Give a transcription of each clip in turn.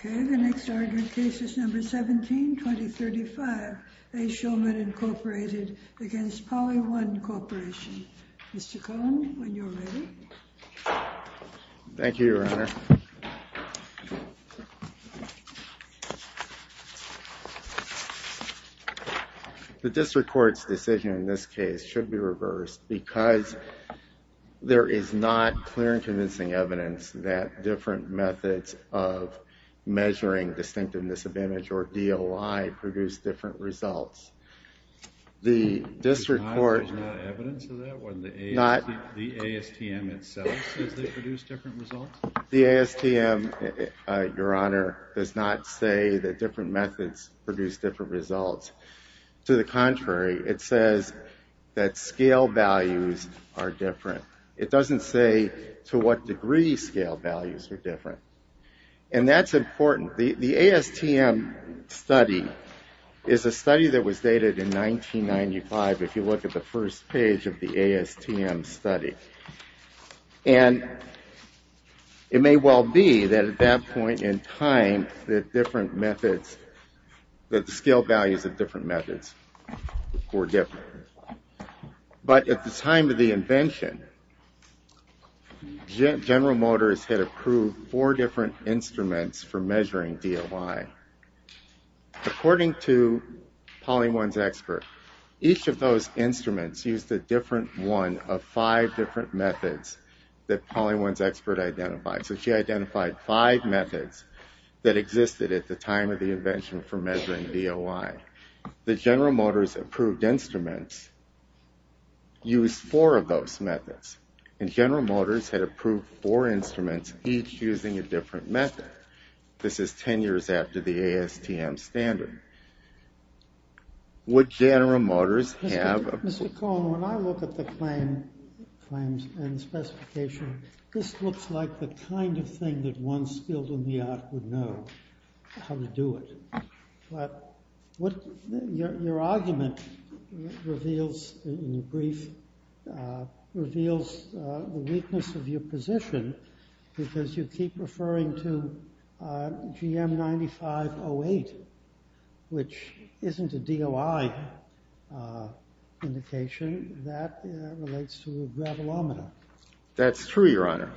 Okay, the next argued case is number 17, 2035, A. Shulman Incorporated against Polly One Corporation. Mr. Cohen, when you are ready. Thank you, Your Honor. The district court's decision in this case should be reversed because there is not clear and convincing evidence that different methods of measuring distinctiveness of image or DOI produce different results. The district court, the ASTM, Your Honor, does not say that different methods produce different results. To the contrary, it says that scale values are different. It doesn't say to what degree scale values are different. And that's important. The ASTM study is a study that was dated in 1995, if you look at the first page of the ASTM study. And it may well be that at that point in time that different methods, that the scale values of different methods were different. But at the time of the invention, General Motors had approved four different instruments for measuring DOI. According to Polly One's expert, each of those instruments used a different one of five different methods that Polly One's expert identified. So she identified five methods that existed at the time of the invention for measuring DOI. The General Motors approved instruments used four of those methods. And General Motors had a different method. This is 10 years after the ASTM standard. Would General Motors have- Mr. Cohn, when I look at the claims and specification, this looks like the kind of thing that one skilled in the art would know how to do it. But what your argument reveals in the referring to GM 9508, which isn't a DOI indication that relates to a gravelometer. That's true, your honor.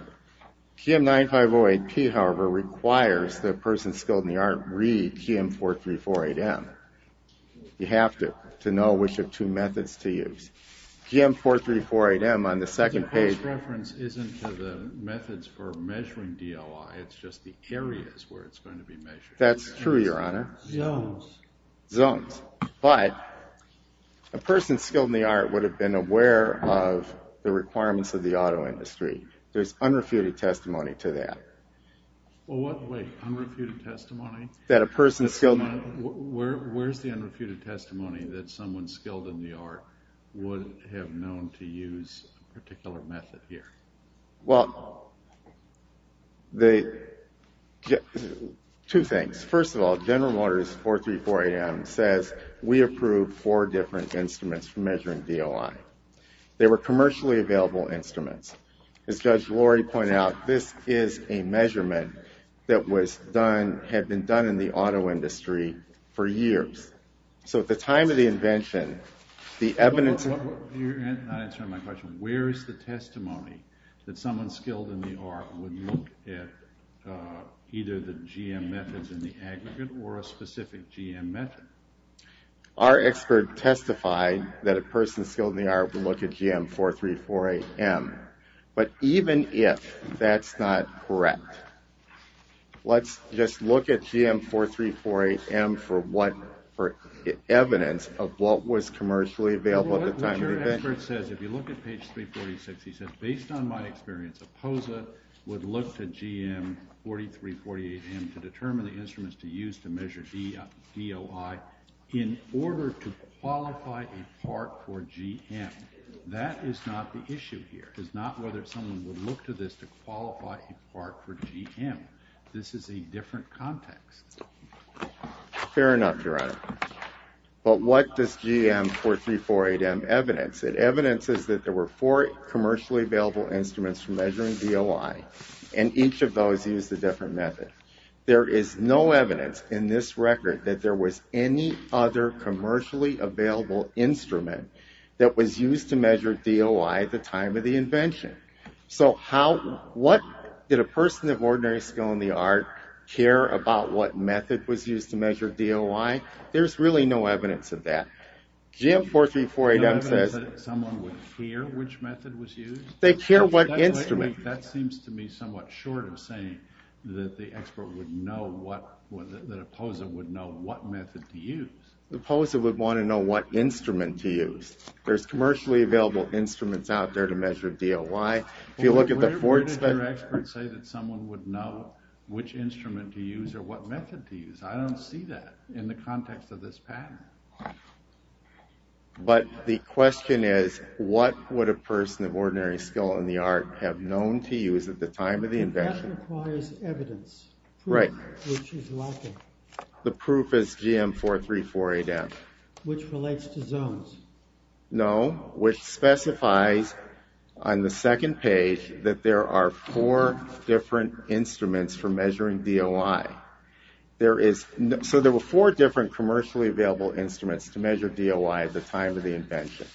GM 9508P, however, requires the person skilled in the art read GM 4348M. You have to know which of two methods to use. GM 4348M on the second page- It's just the areas where it's going to be measured. That's true, your honor. Zones. But a person skilled in the art would have been aware of the requirements of the auto industry. There's unrefuted testimony to that. Wait, unrefuted testimony? That a person skilled- Where's the unrefuted testimony that someone skilled in the art would have known to use a particular method here? Well, two things. First of all, General Motors 4348M says we approved four different instruments for measuring DOI. They were commercially available instruments. As Judge Lori pointed out, this is a measurement that had been done in the auto industry for years. So at the time of the evidence- You're not answering my question. Where's the testimony that someone skilled in the art would look at either the GM methods in the aggregate or a specific GM method? Our expert testified that a person skilled in the art would look at GM 4348M. But even if that's not available at the time of the event- What your expert says, if you look at page 346, he says, based on my experience, a POSA would look to GM 4348M to determine the instruments to use to measure DOI in order to qualify a part for GM. That is not the issue here. It's not whether someone would look to this to qualify a part for GM. This is a different context. Fair enough, Your Honor. But what does GM 4348M evidence? It evidences that there were four commercially available instruments for measuring DOI, and each of those used a different method. There is no evidence in this record that there was any other commercially available instrument that was used to measure DOI at the time of the invention. So how- What- Did a person of ordinary skill in the art care about what method was used to measure DOI? There's really no evidence of that. GM 4348M says- No evidence that someone would care which method was used? They care what instrument- That seems to me somewhat short of saying that the expert would know what- that a POSA would know what method to use. The POSA would want to know what instrument to use. There's commercially available instruments out there to measure DOI. If you look at the- Where did your experts say that someone would know which instrument to use or what method to use? I don't see that in the context of this pattern. But the question is what would a person of ordinary skill in the art have known to use at the time of the invention? That requires evidence. Right. Which is lacking. The proof is GM 4348M. Which relates to zones. No. Which specifies on the second page that there are four different instruments for measuring DOI. There is- So there were four different commercially available instruments to measure DOI at the time of the invention.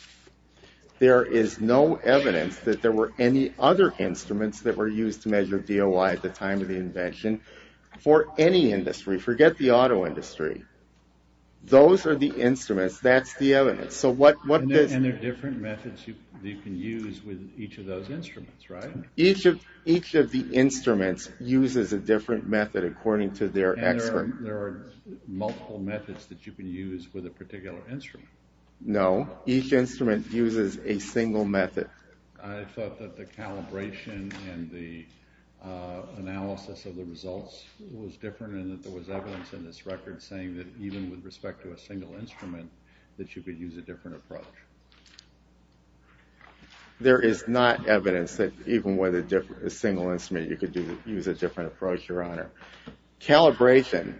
There is no evidence that there were any other instruments that were used to measure DOI at the time of the invention for any industry. Forget the auto industry. Those are the instruments. That's the evidence. So what- And there are different methods you can use with each of those instruments, right? Each of the instruments uses a different method according to their expert. There are multiple methods that you can use with a particular instrument. No. Each instrument uses a single method. I thought that the calibration and the results was different and that there was evidence in this record saying that even with respect to a single instrument that you could use a different approach. There is not evidence that even with a single instrument you could use a different approach, your honor. Calibration.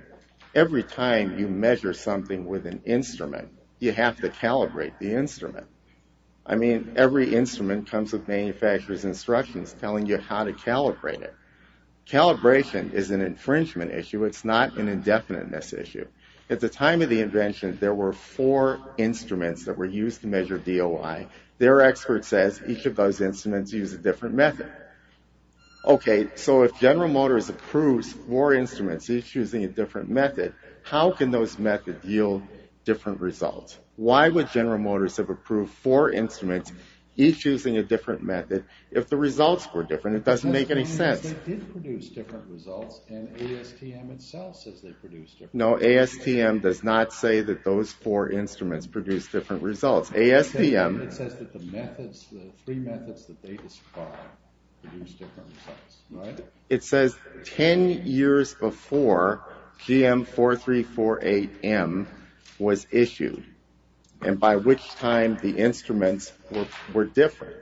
Every time you measure something with an instrument, you have to calibrate the instrument. I mean, every instrument comes with an infringement issue. It's not an indefiniteness issue. At the time of the invention, there were four instruments that were used to measure DOI. Their expert says each of those instruments use a different method. Okay, so if General Motors approves four instruments each using a different method, how can those methods yield different results? Why would General Motors have approved four instruments each using a different method if the results were different? It doesn't make any sense. No, ASTM does not say that those four instruments produce different results. It says 10 years before GM4348M was issued and by which time the instruments were different.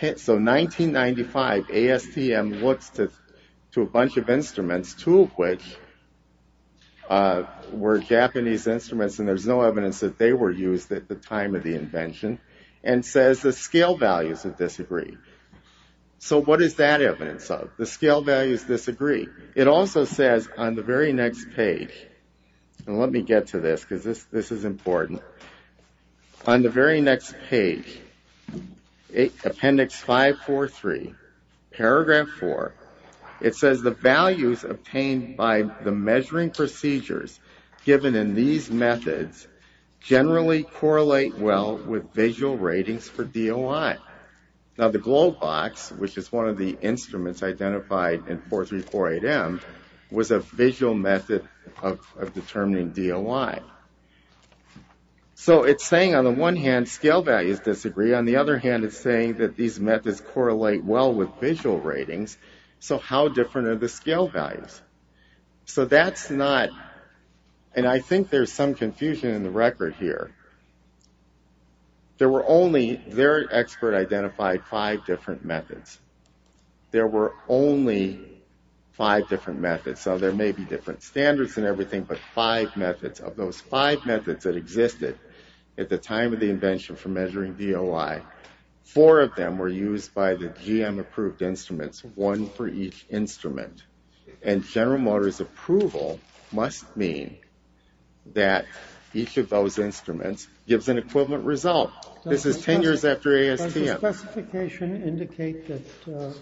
So 1995 ASTM looks to a bunch of instruments, two of which were Japanese instruments and there's no evidence that they were used at the time of the invention and says the scale values disagree. So what is that evidence of? The scale values disagree. It also says on the very next page, and let me get to this because this is important. On the very next page, Appendix 543, Paragraph 4, it says the values obtained by the measuring procedures given in these methods generally correlate well with visual ratings for DOI. Now the globe box, which is one of the instruments identified in 4348M, was a visual method of determining DOI. So it's saying on the one hand, scale values disagree. On the other hand, it's saying that these methods correlate well with visual ratings. So how different are the scale values? So that's not, and I think there's some confusion in the record here. There were only, their expert identified five different methods. There were only five different methods. So there may be different standards and everything, but five methods of those five methods that existed at the time of the invention for measuring DOI, four of them were used by the GM approved instruments, one for each instrument. And General Motors approval must mean that each of those instruments gives an equivalent result. This is 10 years after ASTM. Does the specification indicate that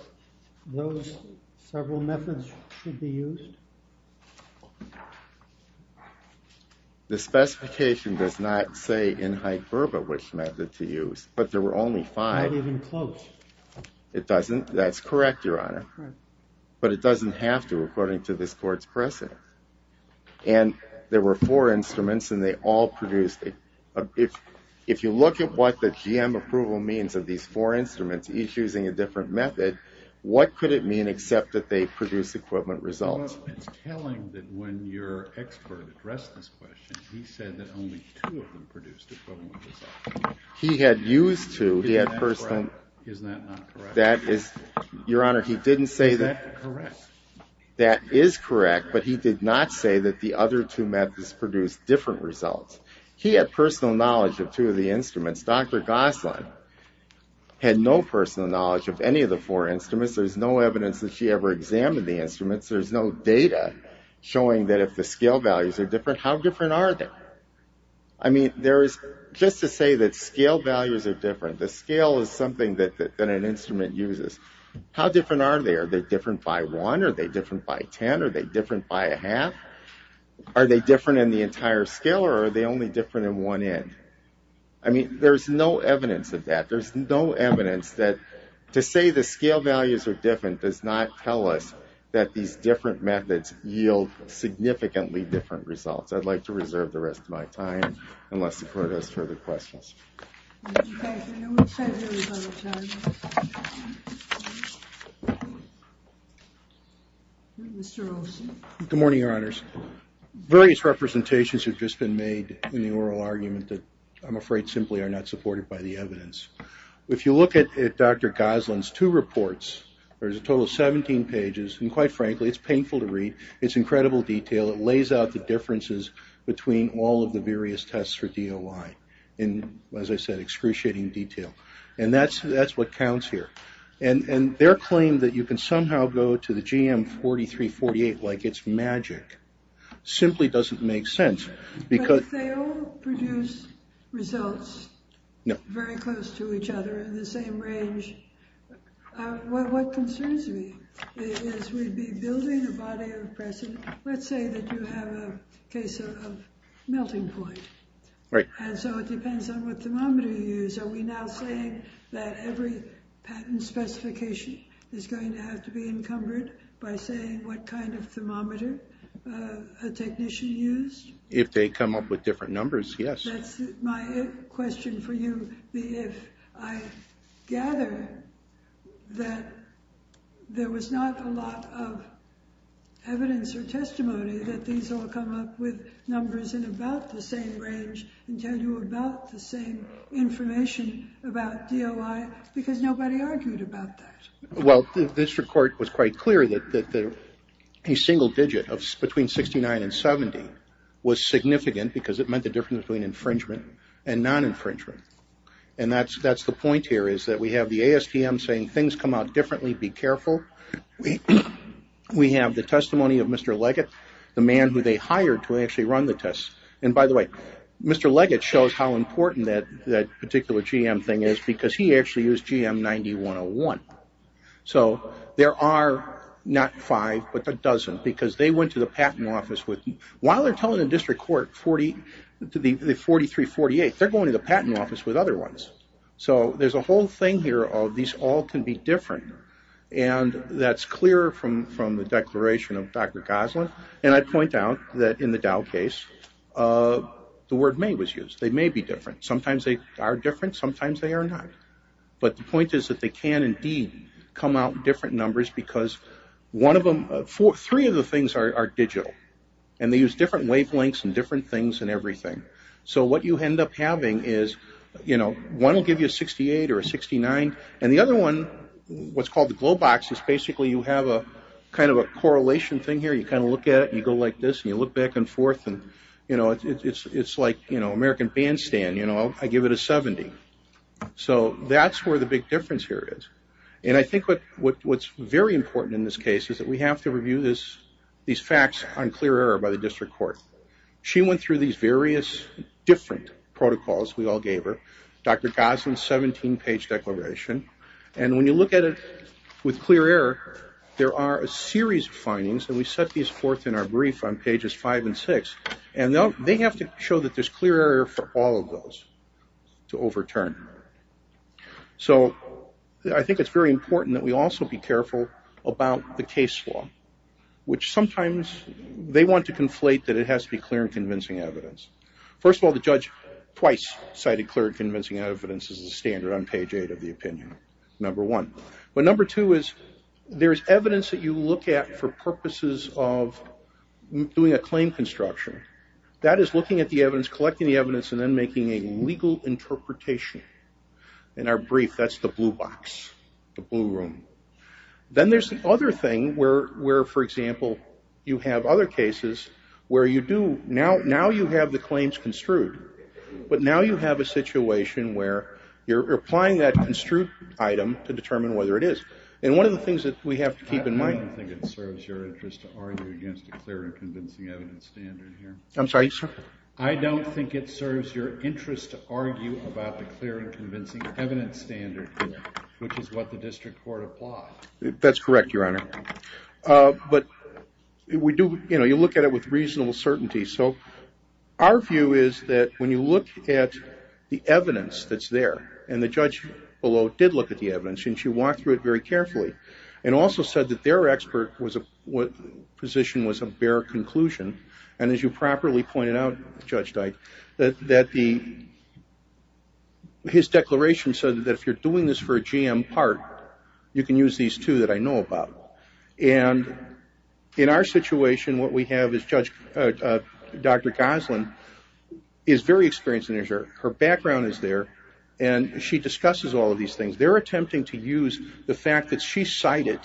those several methods should be used? The specification does not say in hyperbole which method to use, but there were only five. Not even close. It doesn't, that's correct, your honor. But it doesn't have to, according to this court's precedent. And there were four instruments and they all produced, if you look at what the GM approval means of these four instruments, each using a different method, what could it mean except that they produce equivalent results? It's telling that when your expert addressed this question, he said that only two of them produced equivalent results. He had used two. Is that not correct? That is, your honor, he didn't say that. Is that correct? That is correct, but he did not say that the other two methods produced different results. He had personal knowledge of two of the instruments. Dr. Gosselin had no personal knowledge of any of the four instruments. There's no evidence that she ever examined the instruments. There's no data showing that if the scale values are different, how different are they? I mean, there is, just to say that scale values are different, the scale is something that an instrument uses. How different are they? Are they different by one? Are they different by 10? Are they different by a half? Are they different in the entire scale or are they only different in one end? I mean, there's no evidence of that. There's no evidence that to say the scale values are different does not tell us that these different methods yield significantly different results. I'd like to reserve the rest of my time unless the court has further questions. Mr. Olson. Good morning, your honors. Various representations have just been made in the oral argument that I'm afraid simply are not supported by the evidence. If you look at Dr. Gosselin's two reports, there's a total of 17 pages and quite frankly, it's painful to read. It's incredible detail. It lays out the differences between all of the various tests for DOI in, as I said, excruciating detail. And that's what counts here. And their claim that you can somehow go to the GM 4348 like it's magic simply doesn't make sense. But they all produce results very close to each other in the same range. What concerns me is we'd be building a body of precedent. Let's say that you have a case of melting point. And so it depends on what thermometer you use. Are we now saying that every patent specification is going to have to be encumbered by saying what kind of thermometer a technician used? If they come up with different numbers, yes. That's my question for you. If I gather that there was not a lot of evidence or testimony that these all come up with numbers in about the same range and tell you about the same information about DOI, because nobody argued about that. Well, this report was quite clear that a single digit of between 69 and 70 was significant because it meant the difference between infringement and non-infringement. And that's the point here is that we have the ASTM saying things come out differently. Be careful. We have the testimony of Mr. Leggett, the man who they hired to actually run the test. And by the way, Mr. Leggett shows how important that particular GM thing is because he actually used GM 9101. So there are not five, but a dozen because they went to the patent office with... While they're telling the district court, the 4348, they're going to the patent office with other ones. So there's a whole thing here of these all can be different. And that's clear from the declaration of Dr. Goslin. And I'd point out that in the Dow case, the word may was used. They may be different. Sometimes they are different. Sometimes they are not. But the point is that they can indeed come out in different numbers because three of the things are digital. And they use different wavelengths and different things and everything. So what you end up having is one will give you a 68 or a 69. And the other one, what's called the glow box, is basically you have a kind of a correlation thing here. You kind of look at it. You go like this and you look back and forth. And it's like American bandstand. I give it a 70. So that's where the big difference here is. And I think what's very important in this case is that we have to review these facts on clear error by the district court. She went through these various different protocols. We all gave her. Dr. Gosling's 17-page declaration. And when you look at it with clear error, there are a series of findings. And we set these forth in our brief on pages 5 and 6. And they have to show that there's clear error for all of those to overturn. So I think it's very important that we also be careful about the case law, which sometimes they want to conflate that it has to be clear and convincing evidence. First of all, the judge twice cited clear and convincing evidence as the standard on page 8 of the opinion, number one. But number two is there's evidence that you look at for purposes of doing a claim construction. That is looking at the evidence, collecting the evidence, and then making a legal interpretation. In our brief, that's the blue box, the blue room. Then there's the other thing where, for example, you have other cases where you do, now you have the claims construed. But now you have a situation where you're applying that construed item to determine whether it is. And one of the things that we have to keep in mind- I don't think it serves your interest to argue against a clear and convincing evidence standard here. I'm sorry, sir? I don't think it serves your interest to argue about the clear and convincing evidence standard, which is what the district court applies. That's correct, Your Honor. But you look at it with reasonable certainty. So our view is that when you look at the evidence that's there, and the judge below did look at the evidence, and she walked through it very carefully, and also said that their expert position was a bare conclusion. And as you properly pointed out, Judge Dyke, that his declaration said that if you're doing this for a GM part, you can use these two that I know about. And in our situation, what we have is Dr. Goslin is very experienced in this. Her background is there, and she discusses all of these things. They're attempting to use the fact that she cited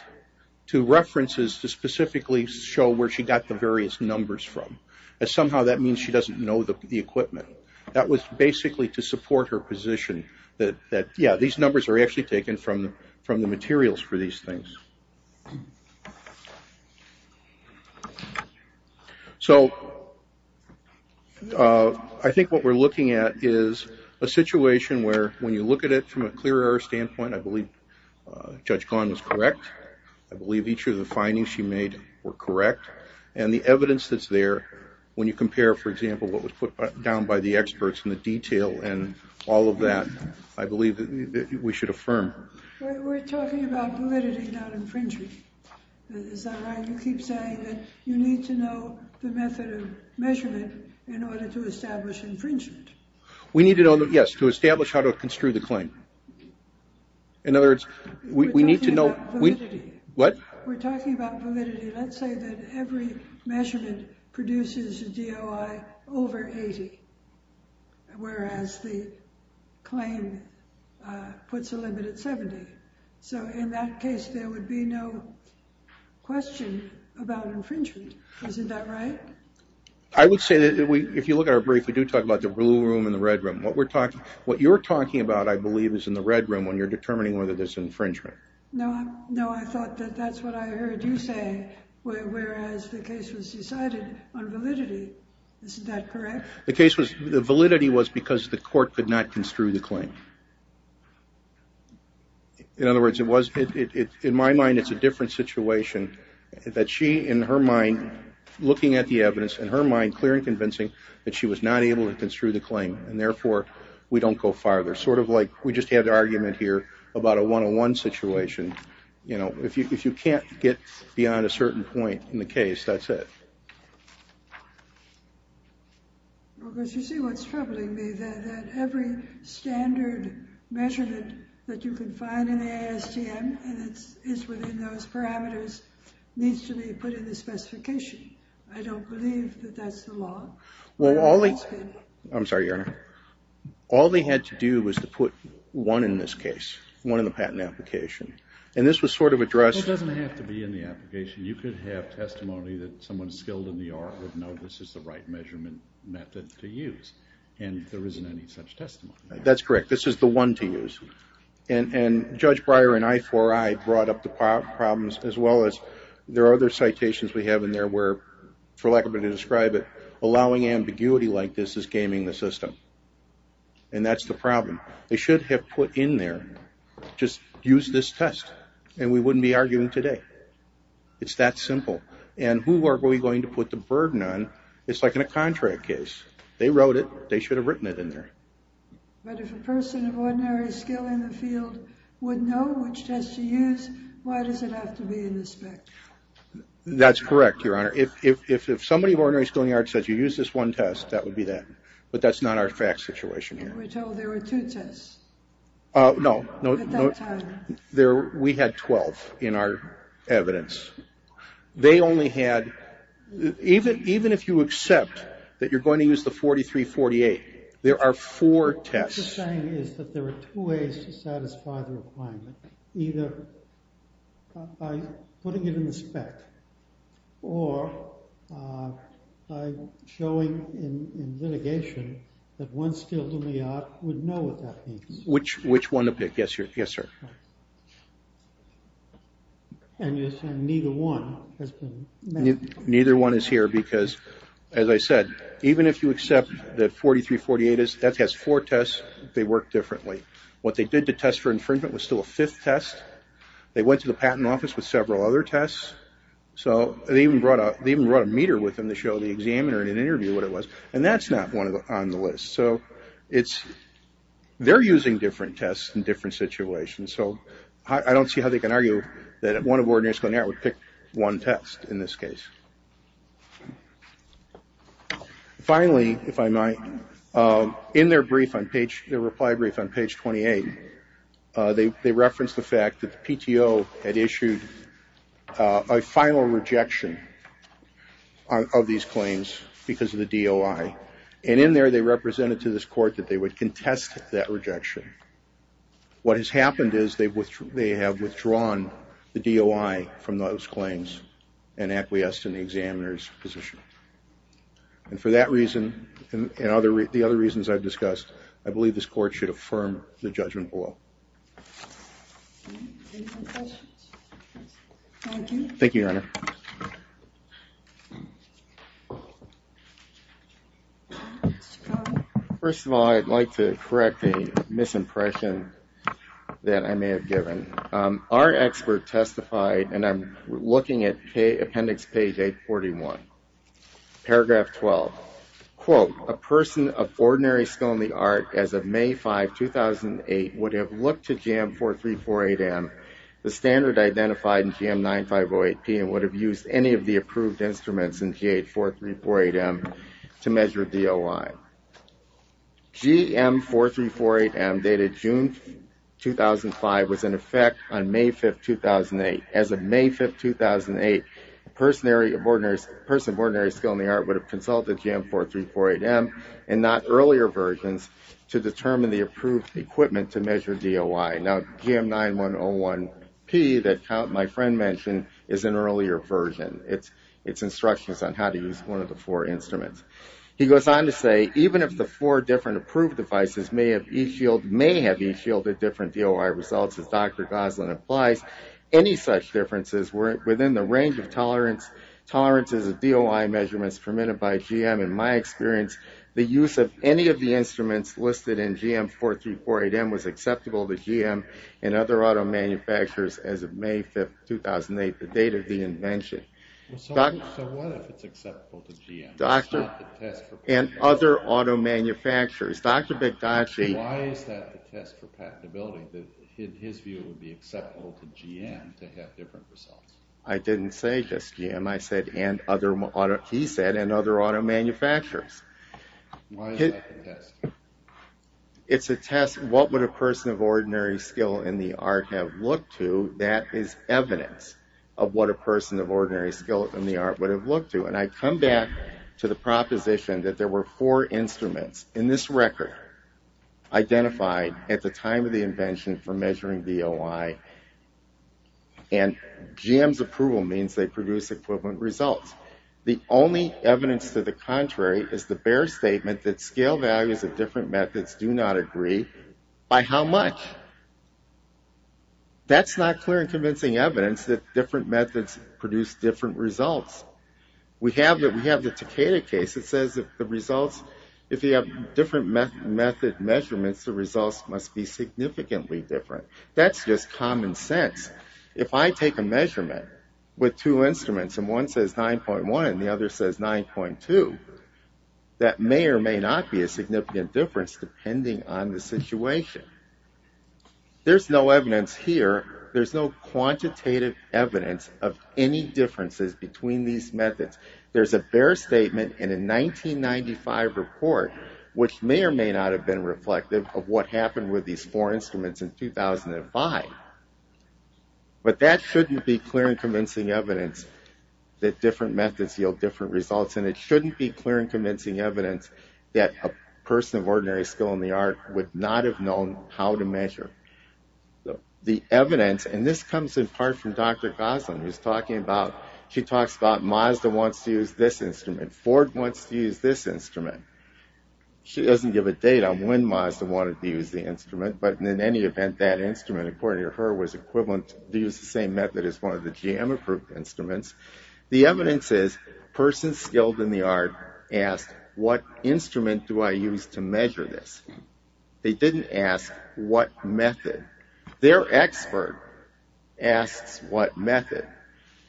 to references to specifically show where she got the various numbers from. Somehow that means she doesn't know the equipment. That was basically to support her position that, yeah, these numbers are actually taken from the materials for these things. So I think what we're looking at is a situation where when you look at it from a clear error standpoint, I believe Judge Ghosn was correct. I believe each of the findings she made were correct. And the evidence that's there, when you compare, for example, what was put down by the experts in the detail and all of that, I believe that we should affirm. We're talking about validity, not infringement. Is that right? You keep saying that you need to know the method of measurement in order to establish infringement. We need to know, yes, to establish how to construe the claim. In other words, we need to know... We're talking about validity. What? We're talking about validity. Let's say that every measurement produces a DOI over 80, whereas the claim puts a limit at 70. So in that case, there would be no question about infringement. Isn't that right? I would say that if you look at our brief, we do talk about the blue room and the red room. What you're talking about, I believe, is in the red room when you're determining whether there's infringement. No, I thought that that's what I heard you say, whereas the case was decided on validity. Isn't that correct? The case was... The validity was because the court could not construe the claim. In other words, in my mind, it's a different situation that she, in her mind, looking at the evidence, in her mind, clear and convincing that she was not able to construe the claim. And therefore, we don't go farther. Sort of like we just had the argument here about a one-on-one situation. You know, if you can't get beyond a certain point in the case, that's it. Well, because you see what's troubling me, that every standard measurement that you can find in the ASTM and it's within those parameters, needs to be put in the specification. I don't believe that that's the law. Well, all they... I'm sorry, Your Honor. All they had to do was to put one in this case, one in the patent application. And this was sort of addressed... It doesn't have to be in the application. You could have testimony that someone skilled in the art would know this is the right measurement method to use. And there isn't any such testimony. That's correct. This is the one to use. And Judge Breyer and I4I brought up the problems as well as there are other citations we have in there where, for lack of a better way to describe it, allowing ambiguity like this is gaming the system. And that's the problem. They should have put in there, just use this test and we wouldn't be arguing today. It's that simple. And who are we going to put the burden on? It's like in a contract case. They wrote it. They should have written it in there. But if a person of ordinary skill in the field would know which test to use, why does it have to be in the spec? That's correct, Your Honor. If somebody of ordinary skill in the art said you use this one test, that would be that. But that's not our fact situation here. We're told there were two tests. No. We had 12 in our evidence. They only had... 4348. There are four tests. What you're saying is that there are two ways to satisfy the requirement. Either by putting it in the spec or by showing in litigation that one skilled in the art would know what that means. Which one to pick. Yes, sir. And you're saying neither one has been met. Neither one is here because, as I said, even if you accept that 4348 has four tests, they work differently. What they did to test for infringement was still a fifth test. They went to the patent office with several other tests. So they even brought a meter with them to show the examiner in an interview what it was. And that's not one on the list. So they're using different tests in different situations. So I don't see how they can argue that one of ordinary skill in the art would pick one test in this case. Finally, if I might, in their reply brief on page 28, they reference the fact that the PTO had issued a final rejection of these claims because of the DOI. And in there, they represented to this court that they would contest that rejection. What has happened is they have withdrawn the DOI from those claims and acquiesced in the examiner's position. And for that reason and the other reasons I've discussed, I believe this court should affirm the judgment of the law. Thank you, Your Honor. First of all, I'd like to correct a misimpression that I may have given. Our expert testified, and I'm looking at appendix page 841. Paragraph 12. Quote, a person of ordinary skill in the art as of May 5, 2008 would have looked to GM 4348M, the standard identified in GM 9508P and would have used any of the approved instruments in GH 4348M to measure DOI. GM 4348M dated June 2005 was in effect on May 5, 2008. As of May 5, 2008, a person of ordinary skill in the art would have consulted GM 4348M and not earlier versions to determine the approved equipment to measure DOI. Now, GM 9101P that my friend mentioned is an earlier version. It's instructions on how to use one of the four instruments. He goes on to say, even if the four different approved devices may have each yielded different DOI results as Dr. Goslin implies, any such differences were within the range of tolerance, tolerances of DOI measurements permitted by GM. In my experience, the use of any of the instruments listed in GM 4348M was acceptable to GM and other auto manufacturers as of May 5, 2008, the date of the invention. So what if it's acceptable to GM? And other auto manufacturers. Dr. Bigocchi. Why is that a test for patentability? His view would be acceptable to GM to have different results. I didn't say just GM. I said, and other auto, he said, and other auto manufacturers. Why is that a test? It's a test, what would a person of ordinary skill in the art have looked to that is evidence of what a person of ordinary skill in the art would have looked to. And I come back to the proposition that there were four instruments in this record identified at the time of the invention for measuring DOI. And GM's approval means they produce equivalent results. The only evidence to the contrary is the bare statement that scale values of different methods do not agree by how much. That's not clear and convincing evidence that different methods produce different results. We have the Takeda case that says that the results, if you have different method measurements, the results must be significantly different. That's just common sense. If I take a measurement with two instruments and one says 9.1 and the other says 9.2, that may or may not be a significant difference depending on the situation. There's no evidence here. There's no quantitative evidence of any differences between these methods. There's a bare statement in a 1995 report which may or may not have been reflective of what happened with these four instruments in 2005. But that shouldn't be clear and convincing evidence that different methods yield different results and it shouldn't be clear and convincing evidence that a person of ordinary skill in the art would not have known how to measure the evidence. And this comes in part from Dr. Gosling who's talking about, she talks about Mazda wants to use this instrument, Ford wants to use this instrument. She doesn't give a date on when Mazda wanted to use the instrument, but in any event, that instrument according to her was equivalent to use the same method as one of the GM approved instruments. The evidence is person skilled in the art asked what instrument do I use to measure this? They didn't ask what method. Their expert asks what method.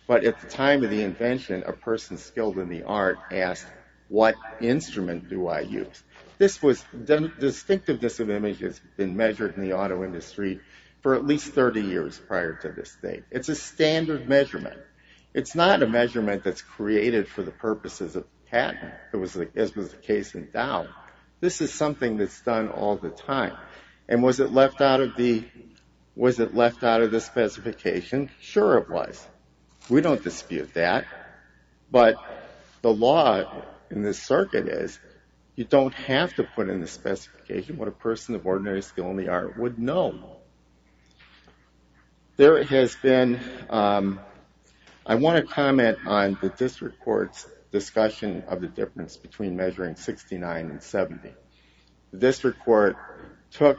But at the time of the invention, a person skilled in the art asked what instrument do I use? This was the distinctiveness of images been measured in the auto industry for at least 30 years prior to this date. It's a standard measurement. It's not a measurement that's created for the purposes of patent. It was a case in doubt. This is something that's done all the time. And was it left out of the specification? Sure it was. We don't dispute that. But the law in this circuit is you don't have to put in the specification what a person of ordinary skill in the art would know. There has been, I want to comment on the district court's discussion of the difference between measuring 69 and 70. The district court took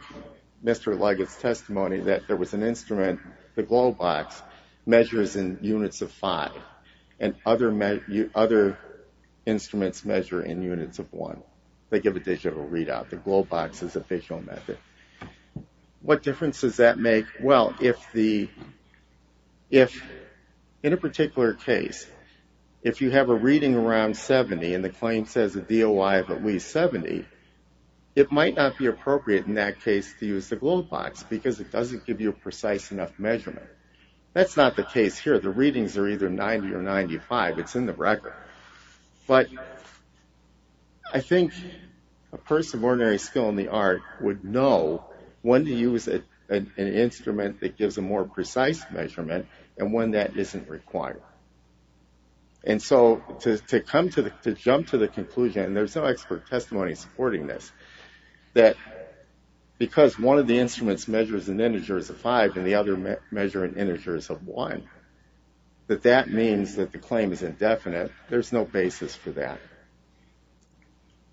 Mr. Leggett's testimony that there was an instrument the globe box measures in units of five. And other instruments measure in units of one. They give a digital readout. The globe box is official method. What difference does that make? Well, if in a particular case, if you have a reading around 70 and the claim says a DOI of at least 70, it might not be appropriate in that case to use the globe box because it doesn't give you precise enough measurement. That's not the case here. The readings are either 90 or 95. It's in the record. But I think a person of ordinary skill in the art would know when to use an instrument that gives a more precise measurement and when that isn't required. And so to come to the, and there's no expert testimony supporting this, that because one of the instruments measures in integers of five and the other measure in integers of one, that that means that the claim is indefinite. There's no basis for that.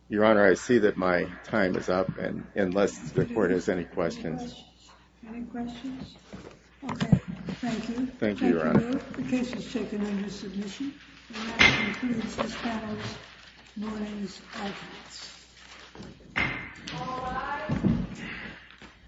Your Honor, I see that my time is up and unless the court has any questions. Any questions? Okay, thank you. Thank you, Your Honor. The case is taken under submission.